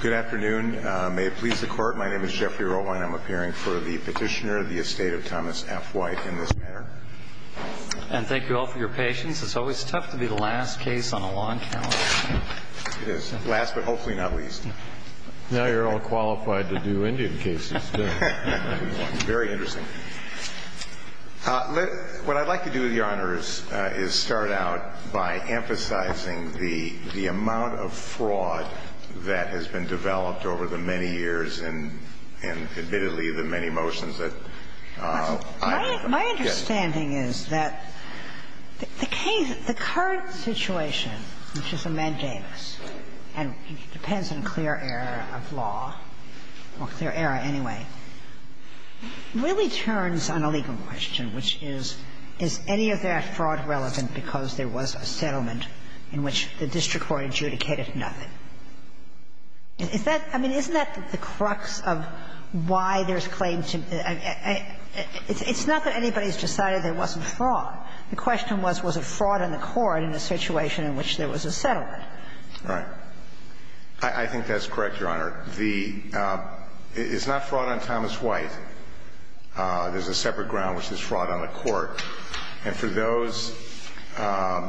Good afternoon. May it please the Court, my name is Jeffrey Rowe and I'm appearing for the Petitioner of the Estate of Thomas F. White in this manner. And thank you all for your patience. It's always tough to be the last case on a launch panel. It is. Last, but hopefully not least. Now you're all qualified to do Indian cases, too. Very interesting. What I'd like to do, Your Honors, is start out by emphasizing the amount of fraud that has been developed over the many years and, admittedly, the many motions that I'm able to get. My understanding is that the case, the current situation, which is a mandamus, and depends on clear error of law, or clear error anyway, really turns on a legal question, which is, is any of that fraud relevant because there was a settlement in which the district court adjudicated nothing? Is that — I mean, isn't that the crux of why there's claims to — it's not that anybody's decided there wasn't fraud. The question was, was it fraud on the court in the situation in which there was a settlement? Right. I think that's correct, Your Honor. The — it's not fraud on Thomas White. There's a separate ground, which is fraud on the court. And for those — there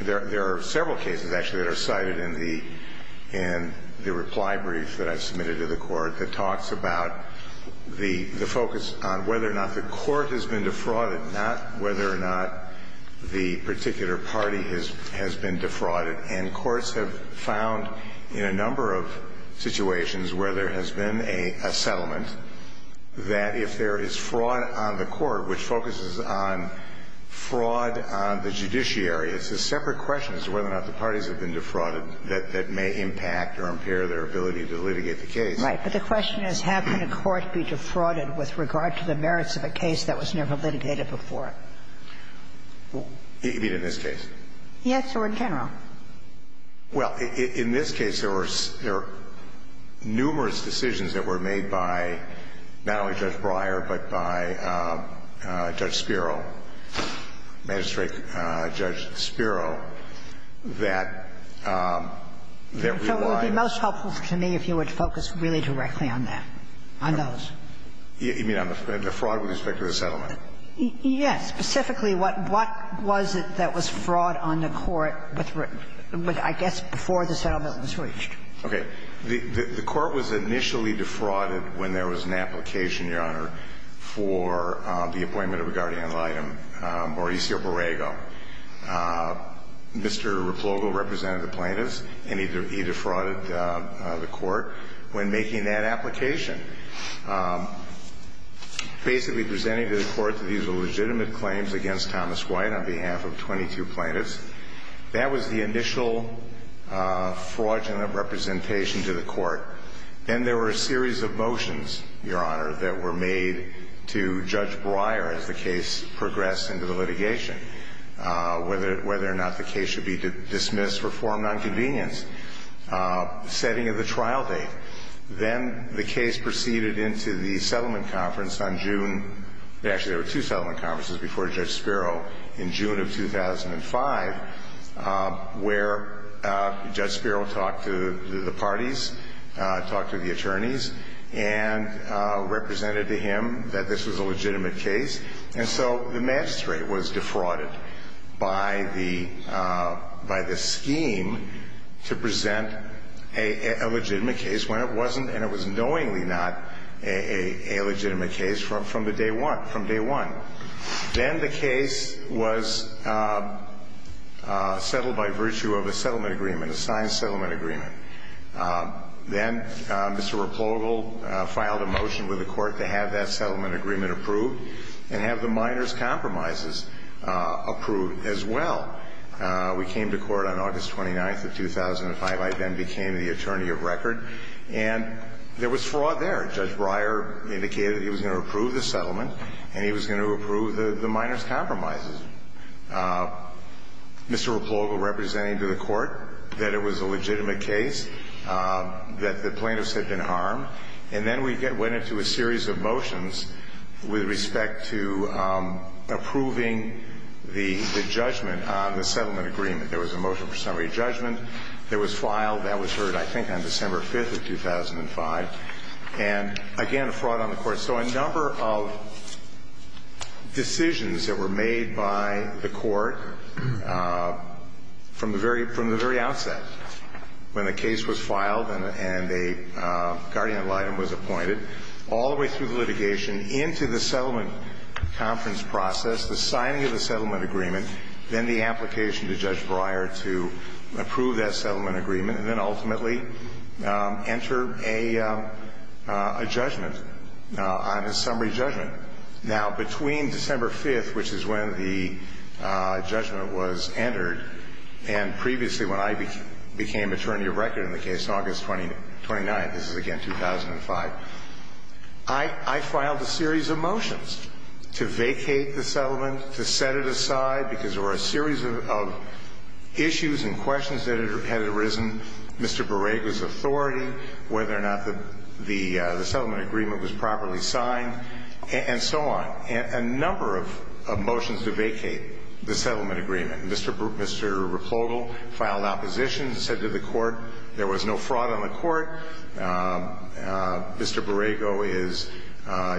are several cases, actually, that are cited in the reply brief that I've submitted to the court that talks about the focus on whether or not the court has been defrauded, not whether or not the particular party has been defrauded. And courts have found in a number of situations where there has been a settlement that if there is fraud on the court, which focuses on fraud on the judiciary, it's a separate question as to whether or not the parties have been defrauded that may impact or impair their ability to litigate the case. Right. But the question is, how can a court be defrauded with regard to the merits of a case that was never litigated before? You mean in this case? Yes, or in general. Well, in this case, there were numerous decisions that were made by not only Judge Breyer, but by Judge Spiro, Magistrate Judge Spiro, that relied on the — So it would be most helpful to me if you would focus really directly on that, on those. You mean on the fraud with respect to the settlement? Yes. Specifically, what was it that was fraud on the court with, I guess, before the settlement was reached? Okay. The court was initially defrauded when there was an application, Your Honor, for the appointment of a guardian litem, Mauricio Borrego. Mr. Replogo represented the plaintiffs, and he defrauded the court when making that application. Basically presenting to the court that these are legitimate claims against Thomas White on behalf of 22 plaintiffs. That was the initial fraudulent representation to the court. Then there were a series of motions, Your Honor, that were made to Judge Breyer as the case progressed into the litigation, whether or not the case should be dismissed, reformed on convenience, setting of the trial date. Then the case proceeded into the settlement conference on June — actually, there were two settlement conferences before Judge Spiro in June of 2005, where Judge Spiro talked to the parties, talked to the attorneys, and represented to him that this was a legitimate case. And so the magistrate was defrauded by the scheme to present a legitimate case when it wasn't, and it was knowingly not, a legitimate case from day one. Then the case was settled by virtue of a settlement agreement, a signed settlement agreement. Then Mr. Replogo filed a motion with the court to have that settlement agreement approved and have the minors' compromises approved as well. We came to court on August 29th of 2005. I then became the attorney of record. And there was fraud there. Judge Breyer indicated he was going to approve the settlement, and he was going to approve the minors' compromises. Mr. Replogo represented him to the court that it was a legitimate case, that the plaintiffs had been harmed. And then we went into a series of motions with respect to approving the judgment on the settlement agreement. There was a motion for summary judgment. It was filed. That was heard, I think, on December 5th of 2005. And, again, a fraud on the court. So a number of decisions that were made by the court from the very outset, when the case was filed and a guardian ad litem was appointed, all the way through the litigation into the settlement conference process, the signing of the settlement agreement, then the application to Judge Breyer to approve that settlement agreement, and then ultimately enter a judgment on his summary judgment. Now, between December 5th, which is when the judgment was entered, and previously when I became attorney of record in the case, August 29th, this is, again, 2005, I filed a series of motions to vacate the settlement, to set it aside, because there were a series of issues and questions that had arisen, Mr. Barrego's authority, whether or not the settlement agreement was properly signed, and so on. A number of motions to vacate the settlement agreement. Mr. Replogo filed opposition and said to the court there was no fraud on the court. Mr. Barrego is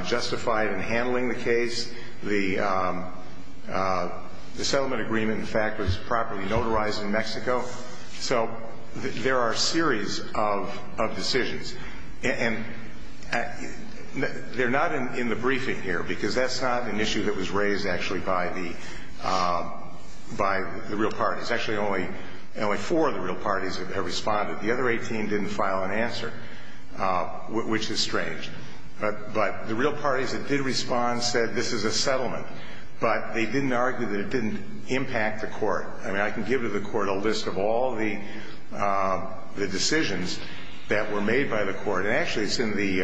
justified in handling the case. The settlement agreement, in fact, was properly notarized in Mexico. So there are a series of decisions. And they're not in the briefing here, because that's not an issue that was raised actually by the real parties. Actually, only four of the real parties have responded. The other 18 didn't file an answer, which is strange. But the real parties that did respond said this is a settlement. But they didn't argue that it didn't impact the court. I mean, I can give to the court a list of all the decisions that were made by the court, and actually it's in the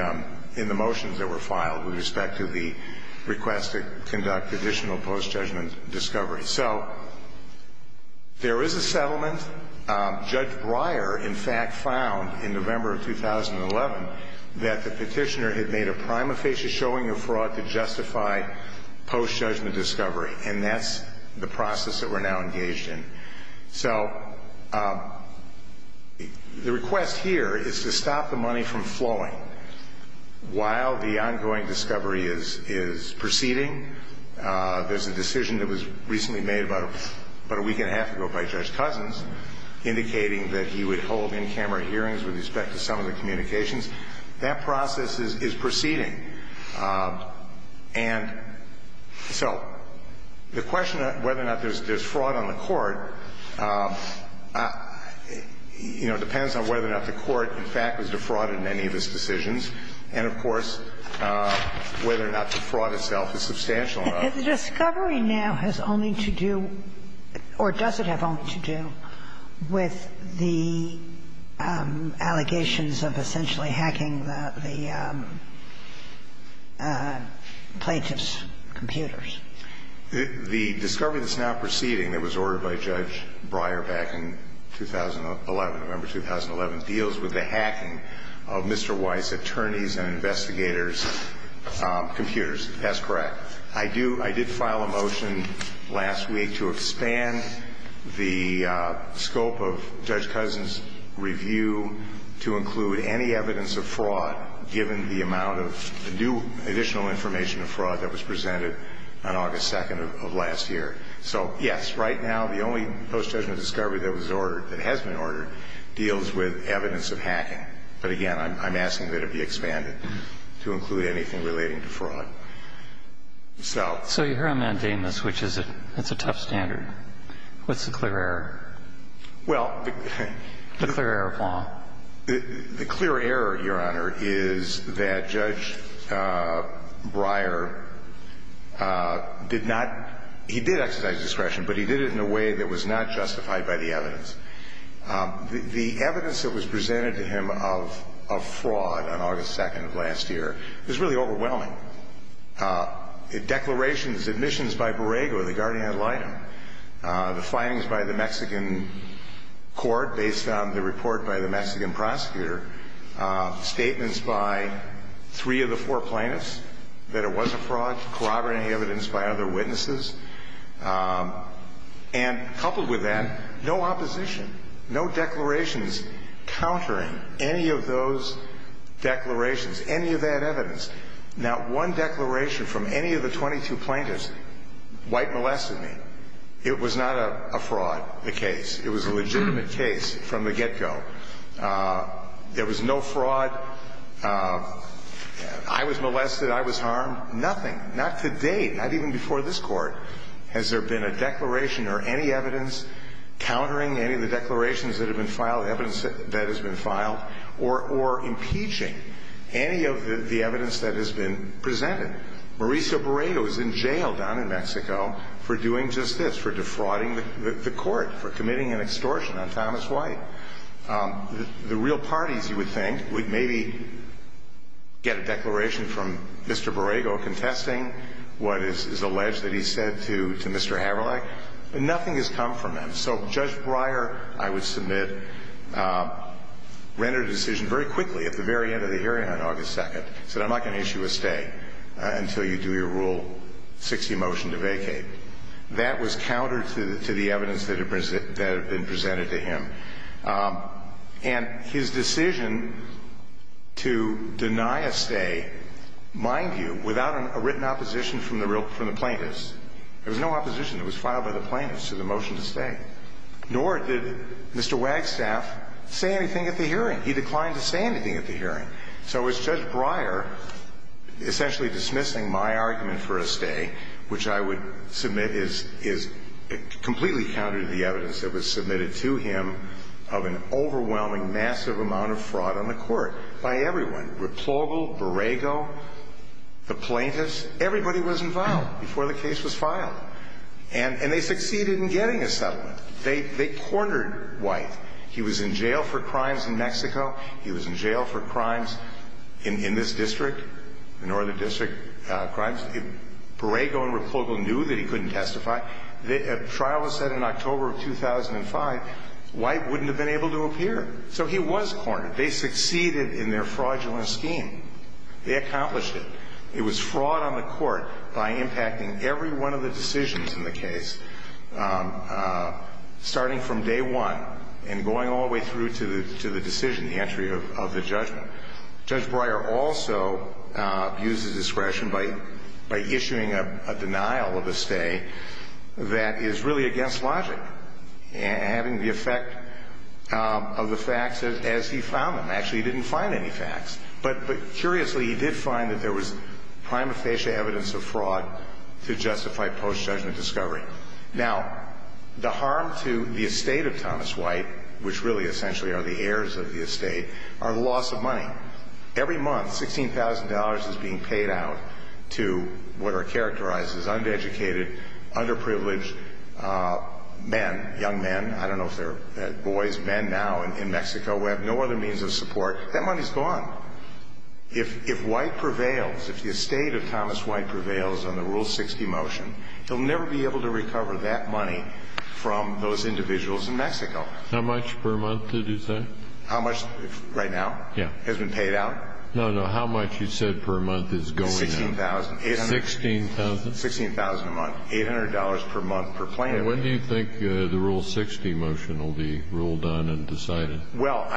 motions that were filed with respect to the request to conduct additional post-judgment discovery. So there is a settlement. Judge Breyer, in fact, found in November of 2011 that the petitioner had made a prima facie showing of fraud to justify post-judgment discovery. And that's the process that we're now engaged in. So the request here is to stop the money from flowing while the ongoing discovery is proceeding. There's a decision that was recently made about a week and a half ago by Judge Cousins indicating that he would hold in-camera hearings with respect to some of the communications. That process is proceeding. And so the question of whether or not there's fraud on the court, you know, depends on whether or not the court, in fact, was defrauded in any of its decisions and, of course, whether or not the fraud itself is substantial enough. The discovery now has only to do, or does it have only to do, with the allegations of essentially hacking the plaintiff's computers? The discovery that's now proceeding that was ordered by Judge Breyer back in 2011, November 2011, deals with the hacking of Mr. Weiss's attorneys' and investigators' computers. That's correct. I do – I did file a motion last week to expand the scope of Judge Cousins' review to include any evidence of fraud, given the amount of new additional information of fraud that was presented on August 2nd of last year. So, yes, right now the only post-judgment discovery that was ordered – that has been ordered – deals with evidence of hacking. But, again, I'm asking that it be expanded to include anything relating to fraud. So... So you're here on mandamus, which is a tough standard. What's the clear error? Well... The clear error of law. The clear error, Your Honor, is that Judge Breyer did not – he did exercise discretion, but he did it in a way that was not justified by the evidence. The evidence that was presented to him of fraud on August 2nd of last year was really overwhelming. Declarations, admissions by Borrego, the guardian ad litem, the findings by the Mexican court based on the report by the Mexican prosecutor, statements by three of the four plaintiffs that it was a fraud, corroborating evidence by other witnesses, and coupled with that, no opposition, no declarations countering any of those declarations, any of that evidence. Not one declaration from any of the 22 plaintiffs, White molested me. It was not a fraud, the case. It was a legitimate case from the get-go. There was no fraud. I was molested. I was harmed. Nothing. Not to date. Not even before this Court has there been a declaration or any evidence countering any of the declarations that have been filed, evidence that has been filed, or impeaching any of the evidence that has been presented. Mauricio Borrego is in jail down in Mexico for doing just this, for defrauding the Court, for committing an extortion on Thomas White. The real parties, you would think, would maybe get a declaration from Mr. Borrego contesting what is alleged that he said to Mr. Haverlech, but nothing has come from them. So Judge Breyer, I would submit, rendered a decision very quickly at the very end of the hearing on August 2nd, said, I'm not going to issue a stay until you do your Rule 60 motion to vacate. That was counter to the evidence that had been presented to him. And his decision to deny a stay, mind you, without a written opposition from the plaintiffs, there was no opposition. It was filed by the plaintiffs to the motion to stay. Nor did Mr. Wagstaff say anything at the hearing. He declined to say anything at the hearing. So it was Judge Breyer essentially dismissing my argument for a stay, which I would submit is completely counter to the evidence that was submitted to him of an overwhelming massive amount of fraud on the Court by everyone. Replogle, Borrego, the plaintiffs, everybody was involved before the case was filed. And they succeeded in getting a settlement. They cornered White. He was in jail for crimes in Mexico. He was in jail for crimes in this district, the Northern District crimes. Borrego and Replogle knew that he couldn't testify. A trial was set in October of 2005. White wouldn't have been able to appear. So he was cornered. They succeeded in their fraudulent scheme. They accomplished it. It was fraud on the Court by impacting every one of the decisions in the case, starting from day one and going all the way through to the decision, the entry of the judgment. Judge Breyer also abused his discretion by issuing a denial of a stay that is really against logic, having the effect of the facts as he found them. Actually, he didn't find any facts. But curiously, he did find that there was prima facie evidence of fraud to justify post-judgment discovery. Now, the harm to the estate of Thomas White, which really essentially are the heirs of the estate, are the loss of money. Every month, $16,000 is being paid out to what are characterized as undereducated, underprivileged men, young men. I don't know if they're boys, men now in Mexico who have no other means of support. That money's gone. If White prevails, if the estate of Thomas White prevails on the Rule 60 motion, he'll never be able to recover that money from those individuals in Mexico. How much per month did you say? How much right now? Yeah. Has been paid out? No, no. How much you said per month is going out? $16,000. $16,000? $16,000 a month. $800 per month per plaintiff. When do you think the Rule 60 motion will be ruled on and decided? Well,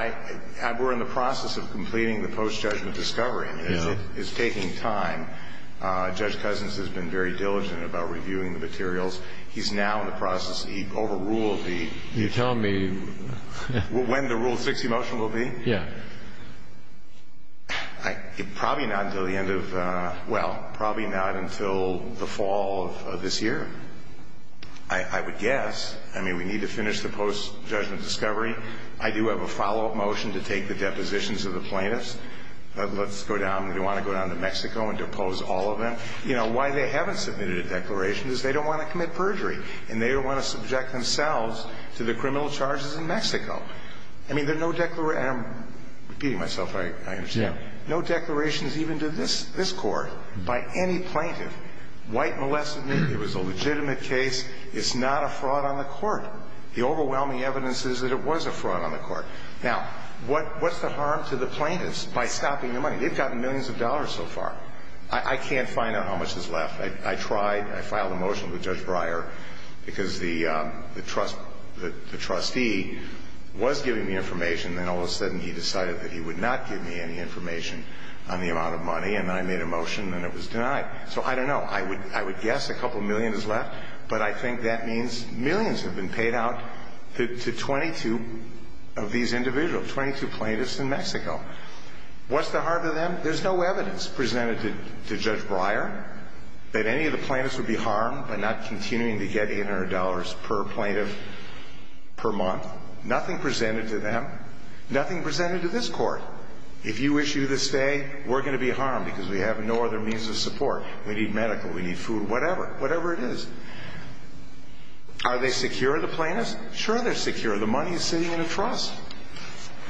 we're in the process of completing the post-judgment discovery. It's taking time. Judge Cousins has been very diligent about reviewing the materials. He's now in the process. He overruled the... You're telling me... When the Rule 60 motion will be? Yeah. Probably not until the end of... Well, probably not until the fall of this year, I would guess. I mean, we need to finish the post-judgment discovery. I do have a follow-up motion to take the depositions of the plaintiffs. Let's go down. We want to go down to Mexico and depose all of them. You know, why they haven't submitted a declaration is they don't want to commit perjury, and they don't want to subject themselves to the criminal charges in Mexico. I mean, there are no declarations... I'm repeating myself. I understand. No declarations even to this court by any plaintiff. White molested me. It was a legitimate case. It's not a fraud on the court. The overwhelming evidence is that it was a fraud on the court. Now, what's the harm to the plaintiffs by stopping the money? They've gotten millions of dollars so far. I can't find out how much is left. I tried. I filed a motion with Judge Breyer because the trustee was giving me information, and then all of a sudden he decided that he would not give me any information on the amount of money, and I made a motion, and it was denied. So I don't know. I would guess a couple million is left, but I think that means millions have been paid out to 22 of these individuals, 22 plaintiffs in Mexico. What's the harm to them? There's no evidence presented to Judge Breyer that any of the plaintiffs would be harmed by not continuing to get $800 per plaintiff per month. Nothing presented to them. Nothing presented to this court. If you issue this day, we're going to be harmed because we have no other means of support. We need medical. We need food. Whatever. Whatever it is. Are they secure, the plaintiffs? Sure, they're secure. The money is sitting in a trust.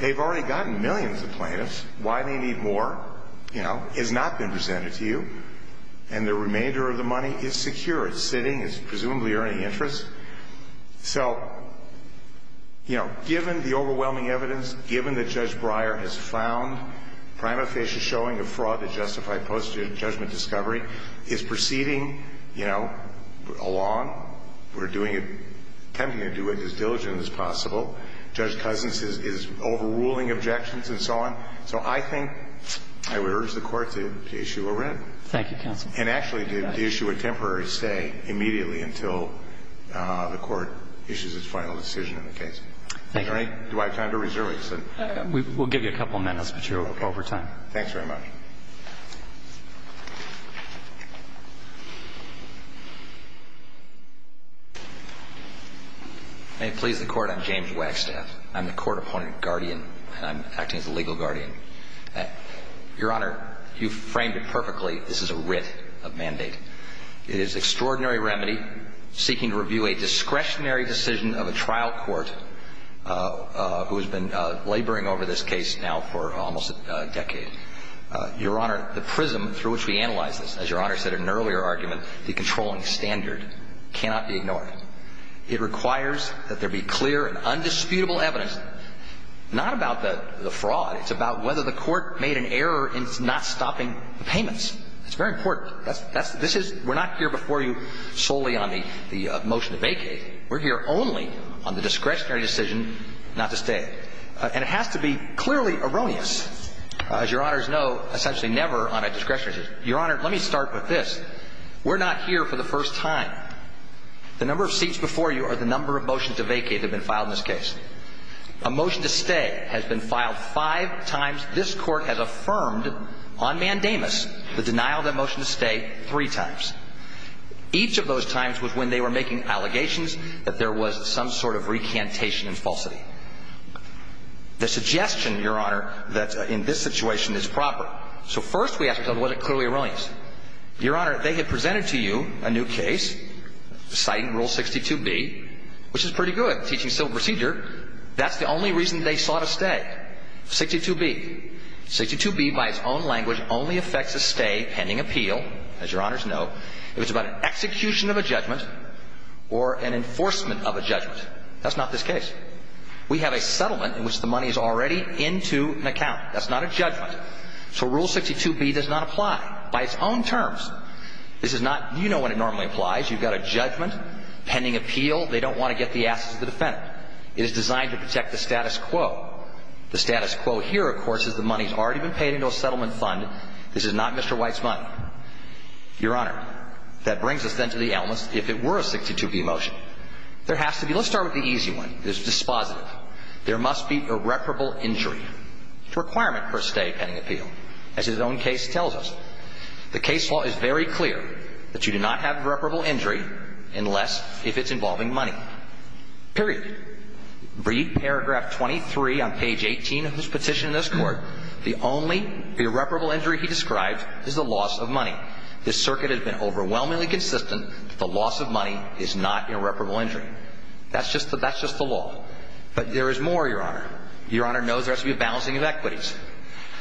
They've already gotten millions of plaintiffs. Why they need more has not been presented to you, and the remainder of the money is secure. It's sitting. It's presumably earning interest. So, you know, given the overwhelming evidence, given that Judge Breyer has found prima facie showing of fraud that justified post-judgment discovery, is proceeding, you know, along. We're doing it, attempting to do it as diligently as possible. Judge Cousins is overruling objections and so on. So I think I would urge the Court to issue a writ. Thank you, counsel. And actually to issue a temporary stay immediately until the Court issues its final decision in the case. Thank you. Do I have time to reserve anything? We'll give you a couple minutes, but you're over time. Okay. Thanks very much. Thank you. May it please the Court, I'm James Wagstaff. I'm the Court opponent guardian, and I'm acting as the legal guardian. Your Honor, you framed it perfectly. This is a writ of mandate. It is extraordinary remedy seeking to review a discretionary decision of a trial court who has been laboring over this case now for almost a decade. Your Honor, the prism through which we analyze this, as Your Honor said in an earlier argument, the controlling standard cannot be ignored. It requires that there be clear and undisputable evidence, not about the fraud. It's about whether the Court made an error in not stopping the payments. It's very important. This is we're not here before you solely on the motion to vacate. We're here only on the discretionary decision not to stay. And it has to be clearly erroneous. As Your Honors know, essentially never on a discretionary decision. Your Honor, let me start with this. We're not here for the first time. The number of seats before you are the number of motions to vacate that have been filed in this case. A motion to stay has been filed five times. This Court has affirmed on mandamus the denial of that motion to stay three times. Each of those times was when they were making allegations that there was some sort of recantation and falsity. The suggestion, Your Honor, that in this situation is proper. So first we have to tell whether it's clearly erroneous. Your Honor, they had presented to you a new case citing Rule 62B, which is pretty good, teaching civil procedure. That's the only reason they sought a stay, 62B. 62B, by its own language, only affects a stay pending appeal, as Your Honors know, if it's about an execution of a judgment or an enforcement of a judgment. That's not this case. We have a settlement in which the money is already into an account. That's not a judgment. So Rule 62B does not apply by its own terms. This is not, you know, what it normally applies. You've got a judgment pending appeal. They don't want to get the assets of the defendant. It is designed to protect the status quo. The status quo here, of course, is the money has already been paid into a settlement fund. This is not Mr. White's money. Your Honor, that brings us then to the elements if it were a 62B motion. There has to be – let's start with the easy one. There's dispositive. There must be irreparable injury. It's a requirement for a stay pending appeal, as his own case tells us. The case law is very clear that you do not have irreparable injury unless if it's involving money, period. Read paragraph 23 on page 18 of this petition in this court. The only irreparable injury he describes is the loss of money. This circuit has been overwhelmingly consistent that the loss of money is not irreparable injury. That's just the law. But there is more, Your Honor. Your Honor knows there has to be a balancing of equities.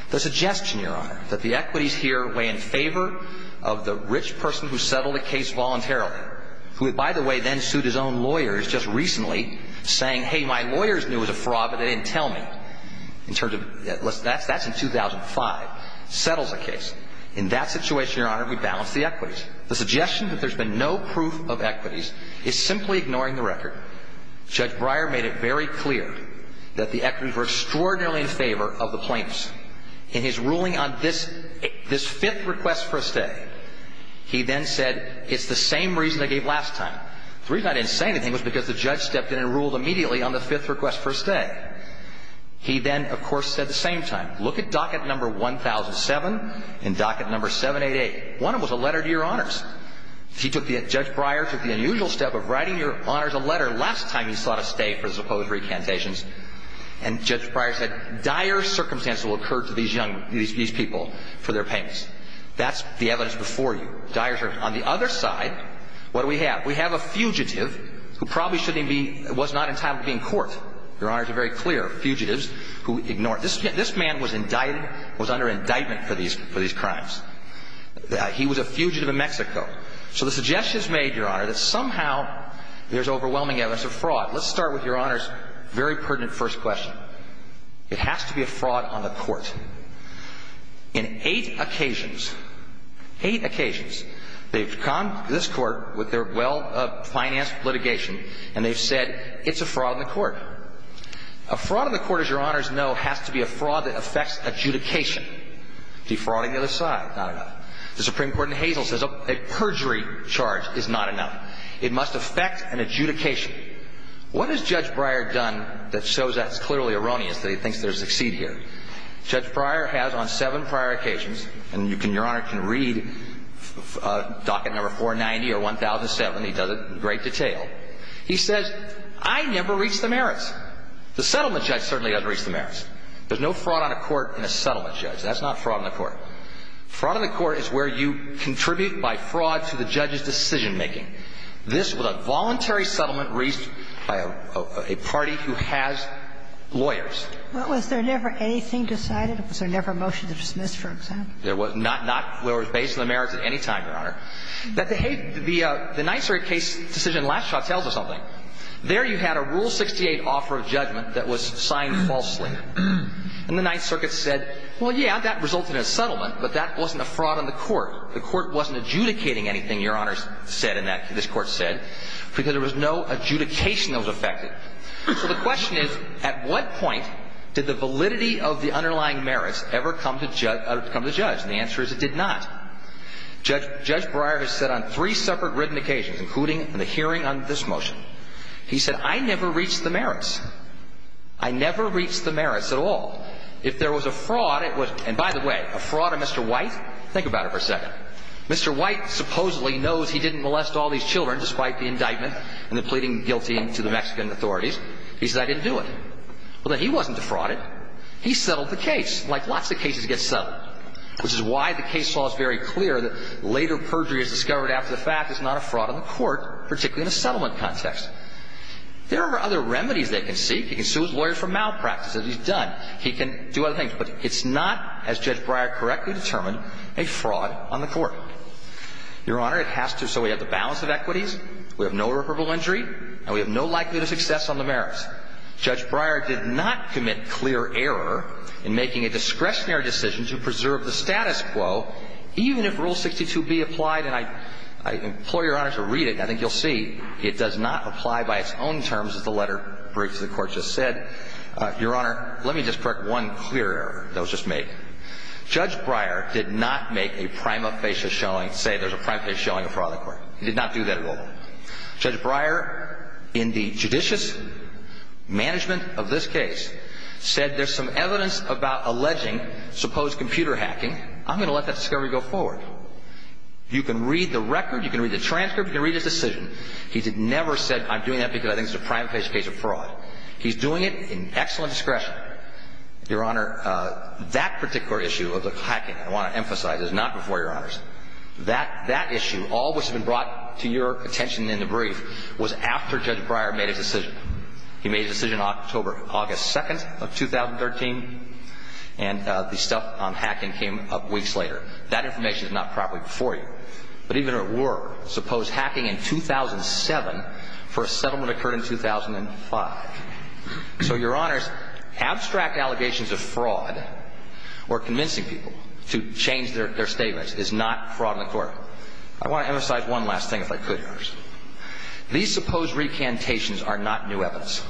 The suggestion, Your Honor, that the equities here weigh in favor of the rich person who settled the case voluntarily, who, by the way, then sued his own lawyers just recently, saying, hey, my lawyers knew it was a fraud, but they didn't tell me. That's in 2005. Settles the case. In that situation, Your Honor, we balance the equities. The suggestion that there's been no proof of equities is simply ignoring the record. Judge Breyer made it very clear that the equities were extraordinarily in favor of the plaintiffs. In his ruling on this fifth request for a stay, he then said, it's the same reason I gave last time. The reason I didn't say anything was because the judge stepped in and ruled immediately on the fifth request for a stay. He then, of course, said the same time, look at docket number 1007 and docket number 788. One of them was a letter to Your Honors. Judge Breyer took the unusual step of writing Your Honors a letter last time he sought a stay for the supposed recantations. And Judge Breyer said, dire circumstances will occur to these people for their payments. That's the evidence before you. Dire circumstances. On the other side, what do we have? We have a fugitive who probably was not entitled to be in court. Your Honors are very clear. Fugitives who ignored. This man was under indictment for these crimes. He was a fugitive in Mexico. So the suggestion is made, Your Honor, that somehow there's overwhelming evidence of fraud. Let's start with Your Honors' very pertinent first question. It has to be a fraud on the court. In eight occasions, eight occasions, they've conned this court with their well-financed litigation and they've said it's a fraud on the court. A fraud on the court, as Your Honors know, has to be a fraud that affects adjudication. Defrauding the other side, not enough. The Supreme Court in Hazel says a perjury charge is not enough. It must affect an adjudication. What has Judge Breyer done that shows that it's clearly erroneous that he thinks there's a succeed here? Judge Breyer has on seven prior occasions, and Your Honor can read docket number 490 or 1007. He does it in great detail. He says, I never reached the merits. The settlement judge certainly doesn't reach the merits. There's no fraud on a court in a settlement judge. That's not fraud on the court. Fraud on the court is where you contribute by fraud to the judge's decision-making. This was a voluntary settlement reached by a party who has lawyers. But was there never anything decided? Was there never a motion to dismiss, for example? There was not. Not where it was based on the merits at any time, Your Honor. The Ninth Circuit case decision last shot tells us something. There you had a Rule 68 offer of judgment that was signed falsely. And the Ninth Circuit said, well, yeah, that resulted in a settlement, but that wasn't a fraud on the court. The court wasn't adjudicating anything Your Honor said in that, this court said, because there was no adjudication that was affected. So the question is, at what point did the validity of the underlying merits ever come to judge? And the answer is it did not. Judge Breyer has said on three separate written occasions, including in the hearing on this motion, he said, I never reached the merits. I never reached the merits at all. If there was a fraud, it was, and by the way, a fraud of Mr. White, think about it for a second. Mr. White supposedly knows he didn't molest all these children despite the indictment and the pleading guilty to the Mexican authorities. He says I didn't do it. Well, then he wasn't defrauded. He settled the case like lots of cases get settled, which is why the case law is very clear that later perjury is discovered after the fact is not a fraud on the court, particularly in a settlement context. There are other remedies they can seek. He can sue his lawyer for malpractice. If he's done, he can do other things. But it's not, as Judge Breyer correctly determined, a fraud on the court. Your Honor, it has to. So we have the balance of equities, we have no irreparable injury, and we have no likelihood of success on the merits. Judge Breyer did not commit clear error in making a discretionary decision to preserve the status quo, even if Rule 62b applied. And I implore Your Honor to read it. I think you'll see it does not apply by its own terms as the letter breaks the court just said. Your Honor, let me just correct one clear error that was just made. Judge Breyer did not make a prima facie showing, say, there's a prima facie showing a fraud on the court. He did not do that at all. Judge Breyer, in the judicious management of this case, said there's some evidence about alleging supposed computer hacking. I'm going to let that discovery go forward. You can read the record, you can read the transcript, you can read his decision. He never said, I'm doing that because I think it's a prima facie case of fraud. He's doing it in excellent discretion. Your Honor, that particular issue of the hacking, I want to emphasize, is not before Your Honors. That issue, all which has been brought to your attention in the brief, was after Judge Breyer made his decision. He made his decision on October, August 2nd of 2013, and the stuff on hacking came up weeks later. That information is not probably before you. But even if it were, suppose hacking in 2007 for a settlement occurred in 2005. So, Your Honors, abstract allegations of fraud or convincing people to change their statements is not fraud on the court. I want to emphasize one last thing, if I could, Your Honors. These supposed recantations are not new evidence.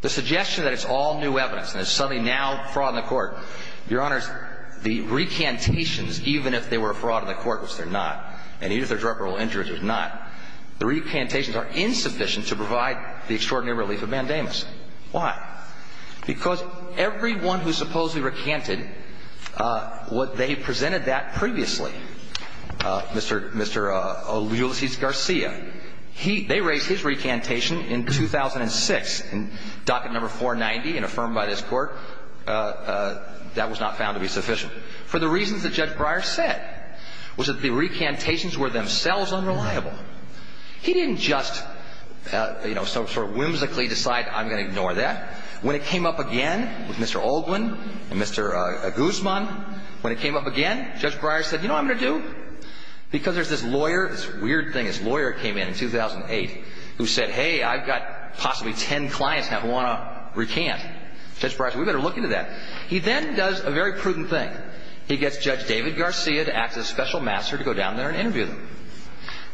The suggestion that it's all new evidence and it's suddenly now fraud on the court, Your Honors, the recantations, even if they were a fraud on the court, which they're not, and even if they're drug-related injuries, which they're not, the recantations are insufficient to provide the extraordinary relief of mandamus. Why? Because everyone who supposedly recanted what they presented that previously, Mr. Ulises Garcia, they raised his recantation in 2006 in docket number 490 and affirmed by this court that was not found to be sufficient. For the reasons that Judge Breyer said, was that the recantations were themselves unreliable. He didn't just, you know, sort of whimsically decide I'm going to ignore that. When it came up again with Mr. Olguin and Mr. Guzman, when it came up again, Judge Breyer said, you know what I'm going to do? Because there's this lawyer, this weird thing, this lawyer came in 2008 who said, hey, I've got possibly ten clients who want to recant. Judge Breyer said, we better look into that. He then does a very prudent thing. He gets Judge David Garcia to act as special master to go down there and interview them.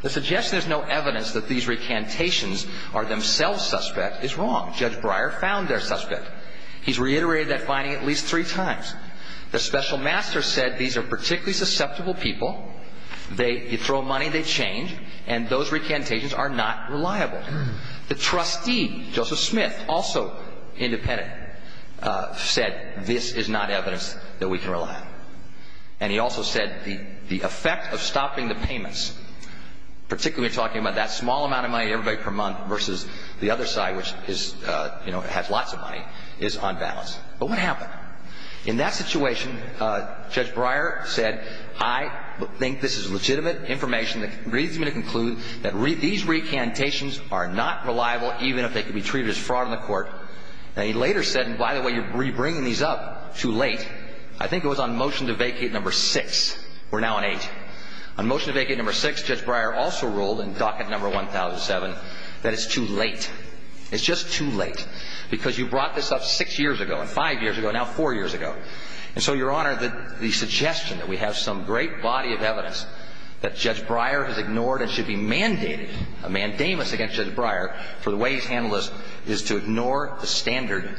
The suggestion there's no evidence that these recantations are themselves suspect is wrong. Judge Breyer found their suspect. He's reiterated that finding at least three times. The special master said these are particularly susceptible people. They throw money, they change, and those recantations are not reliable. The trustee, Joseph Smith, also independent, said this is not evidence that we can rely on. And he also said the effect of stopping the payments, particularly talking about that small amount of money, everybody per month versus the other side, which is, you know, has lots of money, is unbalanced. But what happened? In that situation, Judge Breyer said, I think this is legitimate information that leads me to conclude that these recantations are not reliable even if they can be treated as fraud in the court. Now, he later said, and by the way, you're bringing these up too late. I think it was on motion to vacate number six. We're now on eight. On motion to vacate number six, Judge Breyer also ruled in docket number 1007 that it's too late. It's just too late because you brought this up six years ago and five years ago and now four years ago. And so, Your Honor, the suggestion that we have some great body of evidence that Judge Breyer has ignored and should be mandated a mandamus against Judge Breyer for the way he's handled this is to ignore the standard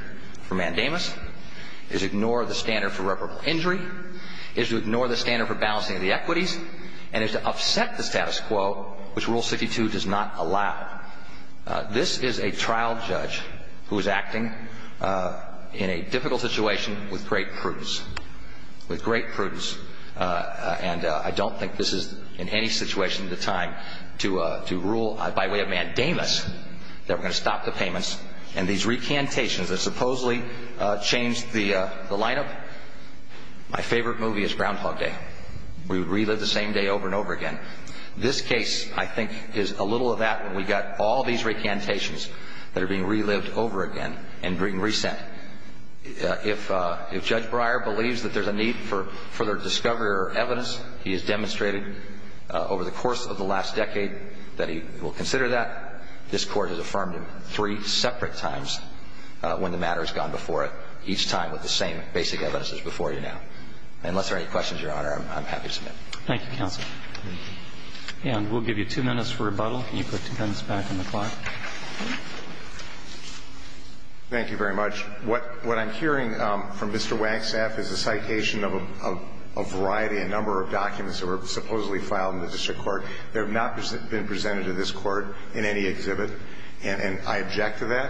for mandamus, is ignore the standard for reparable injury, is to ignore the standard for balancing of the equities, and is to upset the status quo, which Rule 62 does not allow. This is a trial judge who is acting in a difficult situation with great prudence, with great prudence. And I don't think this is in any situation at the time to rule by way of mandamus that we're going to stop the payments. And these recantations that supposedly changed the lineup, my favorite movie is Groundhog Day. We would relive the same day over and over again. This case, I think, is a little of that when we've got all these recantations that are being relived over again and being resent. If Judge Breyer believes that there's a need for further discovery or evidence, he has demonstrated over the course of the last decade that he will consider that. This Court has affirmed him three separate times when the matter has gone before it, each time with the same basic evidences before you now. Unless there are any questions, Your Honor, I'm happy to submit. Thank you, counsel. And we'll give you two minutes for rebuttal. Can you put two minutes back on the clock? Thank you very much. What I'm hearing from Mr. Wanksaf is a citation of a variety, a number of documents that were supposedly filed in the district court. They have not been presented to this Court in any exhibit, and I object to that.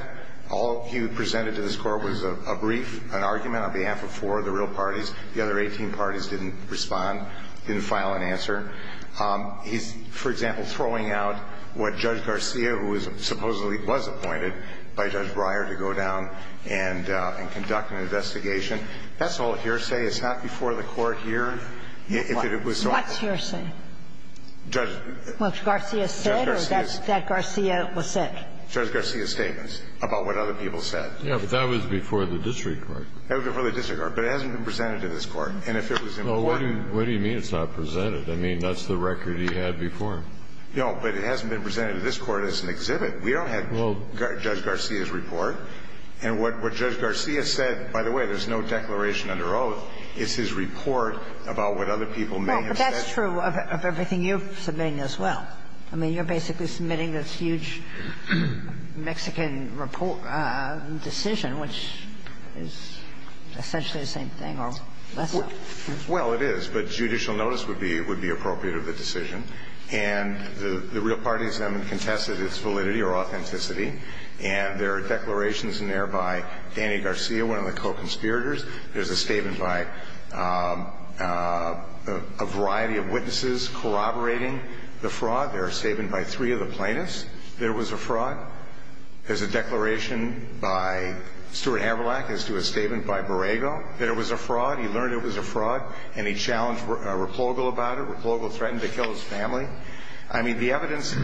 All he presented to this Court was a brief, an argument on behalf of four of the real parties. The other 18 parties didn't respond, didn't file an answer. He's, for example, throwing out what Judge Garcia, who supposedly was appointed by Judge Breyer to go down and conduct an investigation. That's all hearsay. It's not before the Court here. What's hearsay? What Garcia said or that Garcia was said? Judge Garcia's statements about what other people said. Yes, but that was before the district court. That was before the district court, but it hasn't been presented to this Court. And if it was important to him. Well, what do you mean it's not presented? I mean, that's the record he had before. No, but it hasn't been presented to this Court as an exhibit. We don't have Judge Garcia's report. And what Judge Garcia said, by the way, there's no declaration under oath. It's his report about what other people may have said. Well, but that's true of everything you're submitting as well. I mean, you're basically submitting this huge Mexican decision, which is essentially the same thing or less so. Well, it is. But judicial notice would be appropriate of the decision. And the real parties then contested its validity or authenticity. And there are declarations in there by Danny Garcia, one of the co-conspirators. There's a statement by a variety of witnesses corroborating the fraud. There's a statement by three of the plaintiffs that it was a fraud. There's a declaration by Stuart Haverlack as to a statement by Borrego that it was a fraud. He learned it was a fraud, and he challenged Repogol about it. Repogol threatened to kill his family. I mean, the evidence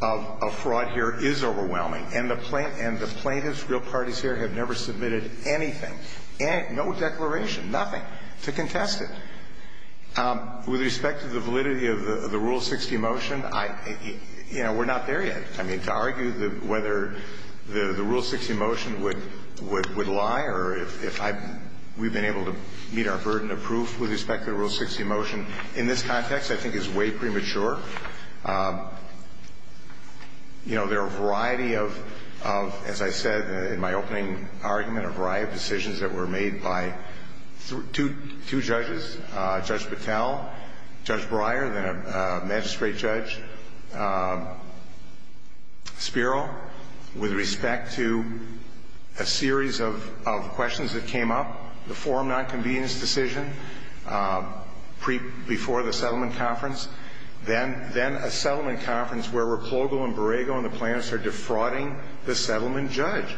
of fraud here is overwhelming. And the plaintiffs, real parties here, have never submitted anything. And no declaration, nothing, to contest it. With respect to the validity of the Rule 60 motion, you know, we're not there yet. I mean, to argue whether the Rule 60 motion would lie or if we've been able to meet our burden of proof with respect to the Rule 60 motion, in this context I think is way premature. You know, there are a variety of, as I said in my opening argument, a variety of decisions that were made by two judges, Judge Battelle, Judge Breyer, then a magistrate judge, Spiro, with respect to a series of questions that came up, the forum nonconvenience decision before the settlement conference, then a settlement conference where Repogol and Borrego and the plaintiffs are defrauding the settlement judge.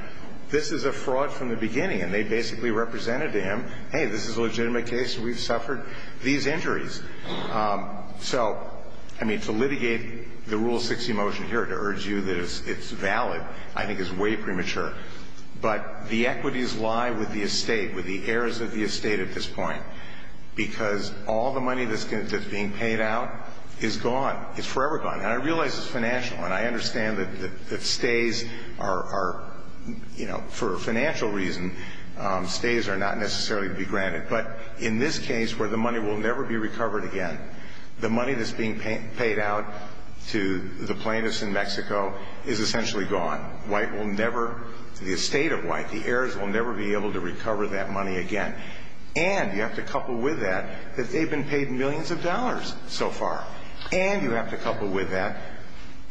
This is a fraud from the beginning. And they basically represented to him, hey, this is a legitimate case. We've suffered these injuries. So, I mean, to litigate the Rule 60 motion here, to urge you that it's valid, I think is way premature. But the equities lie with the estate, with the heirs of the estate at this point, because all the money that's being paid out is gone. It's forever gone. And I realize it's financial. And I understand that stays are, you know, for a financial reason, stays are not necessarily to be granted. But in this case where the money will never be recovered again, the money that's being paid out to the plaintiffs in Mexico is essentially gone. White will never, the estate of white, the heirs will never be able to recover that money again. And you have to couple with that that they've been paid millions of dollars so far. And you have to couple with that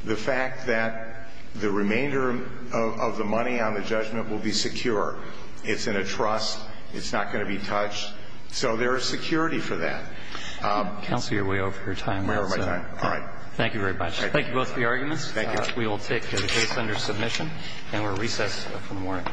the fact that the remainder of the money on the judgment will be secure. It's in a trust. It's not going to be touched. So there is security for that. Counsel, you're way over your time. I'm way over my time. All right. Thank you very much. Thank you both for your arguments. Thank you. We will take the case under submission. And we'll recess for the morning.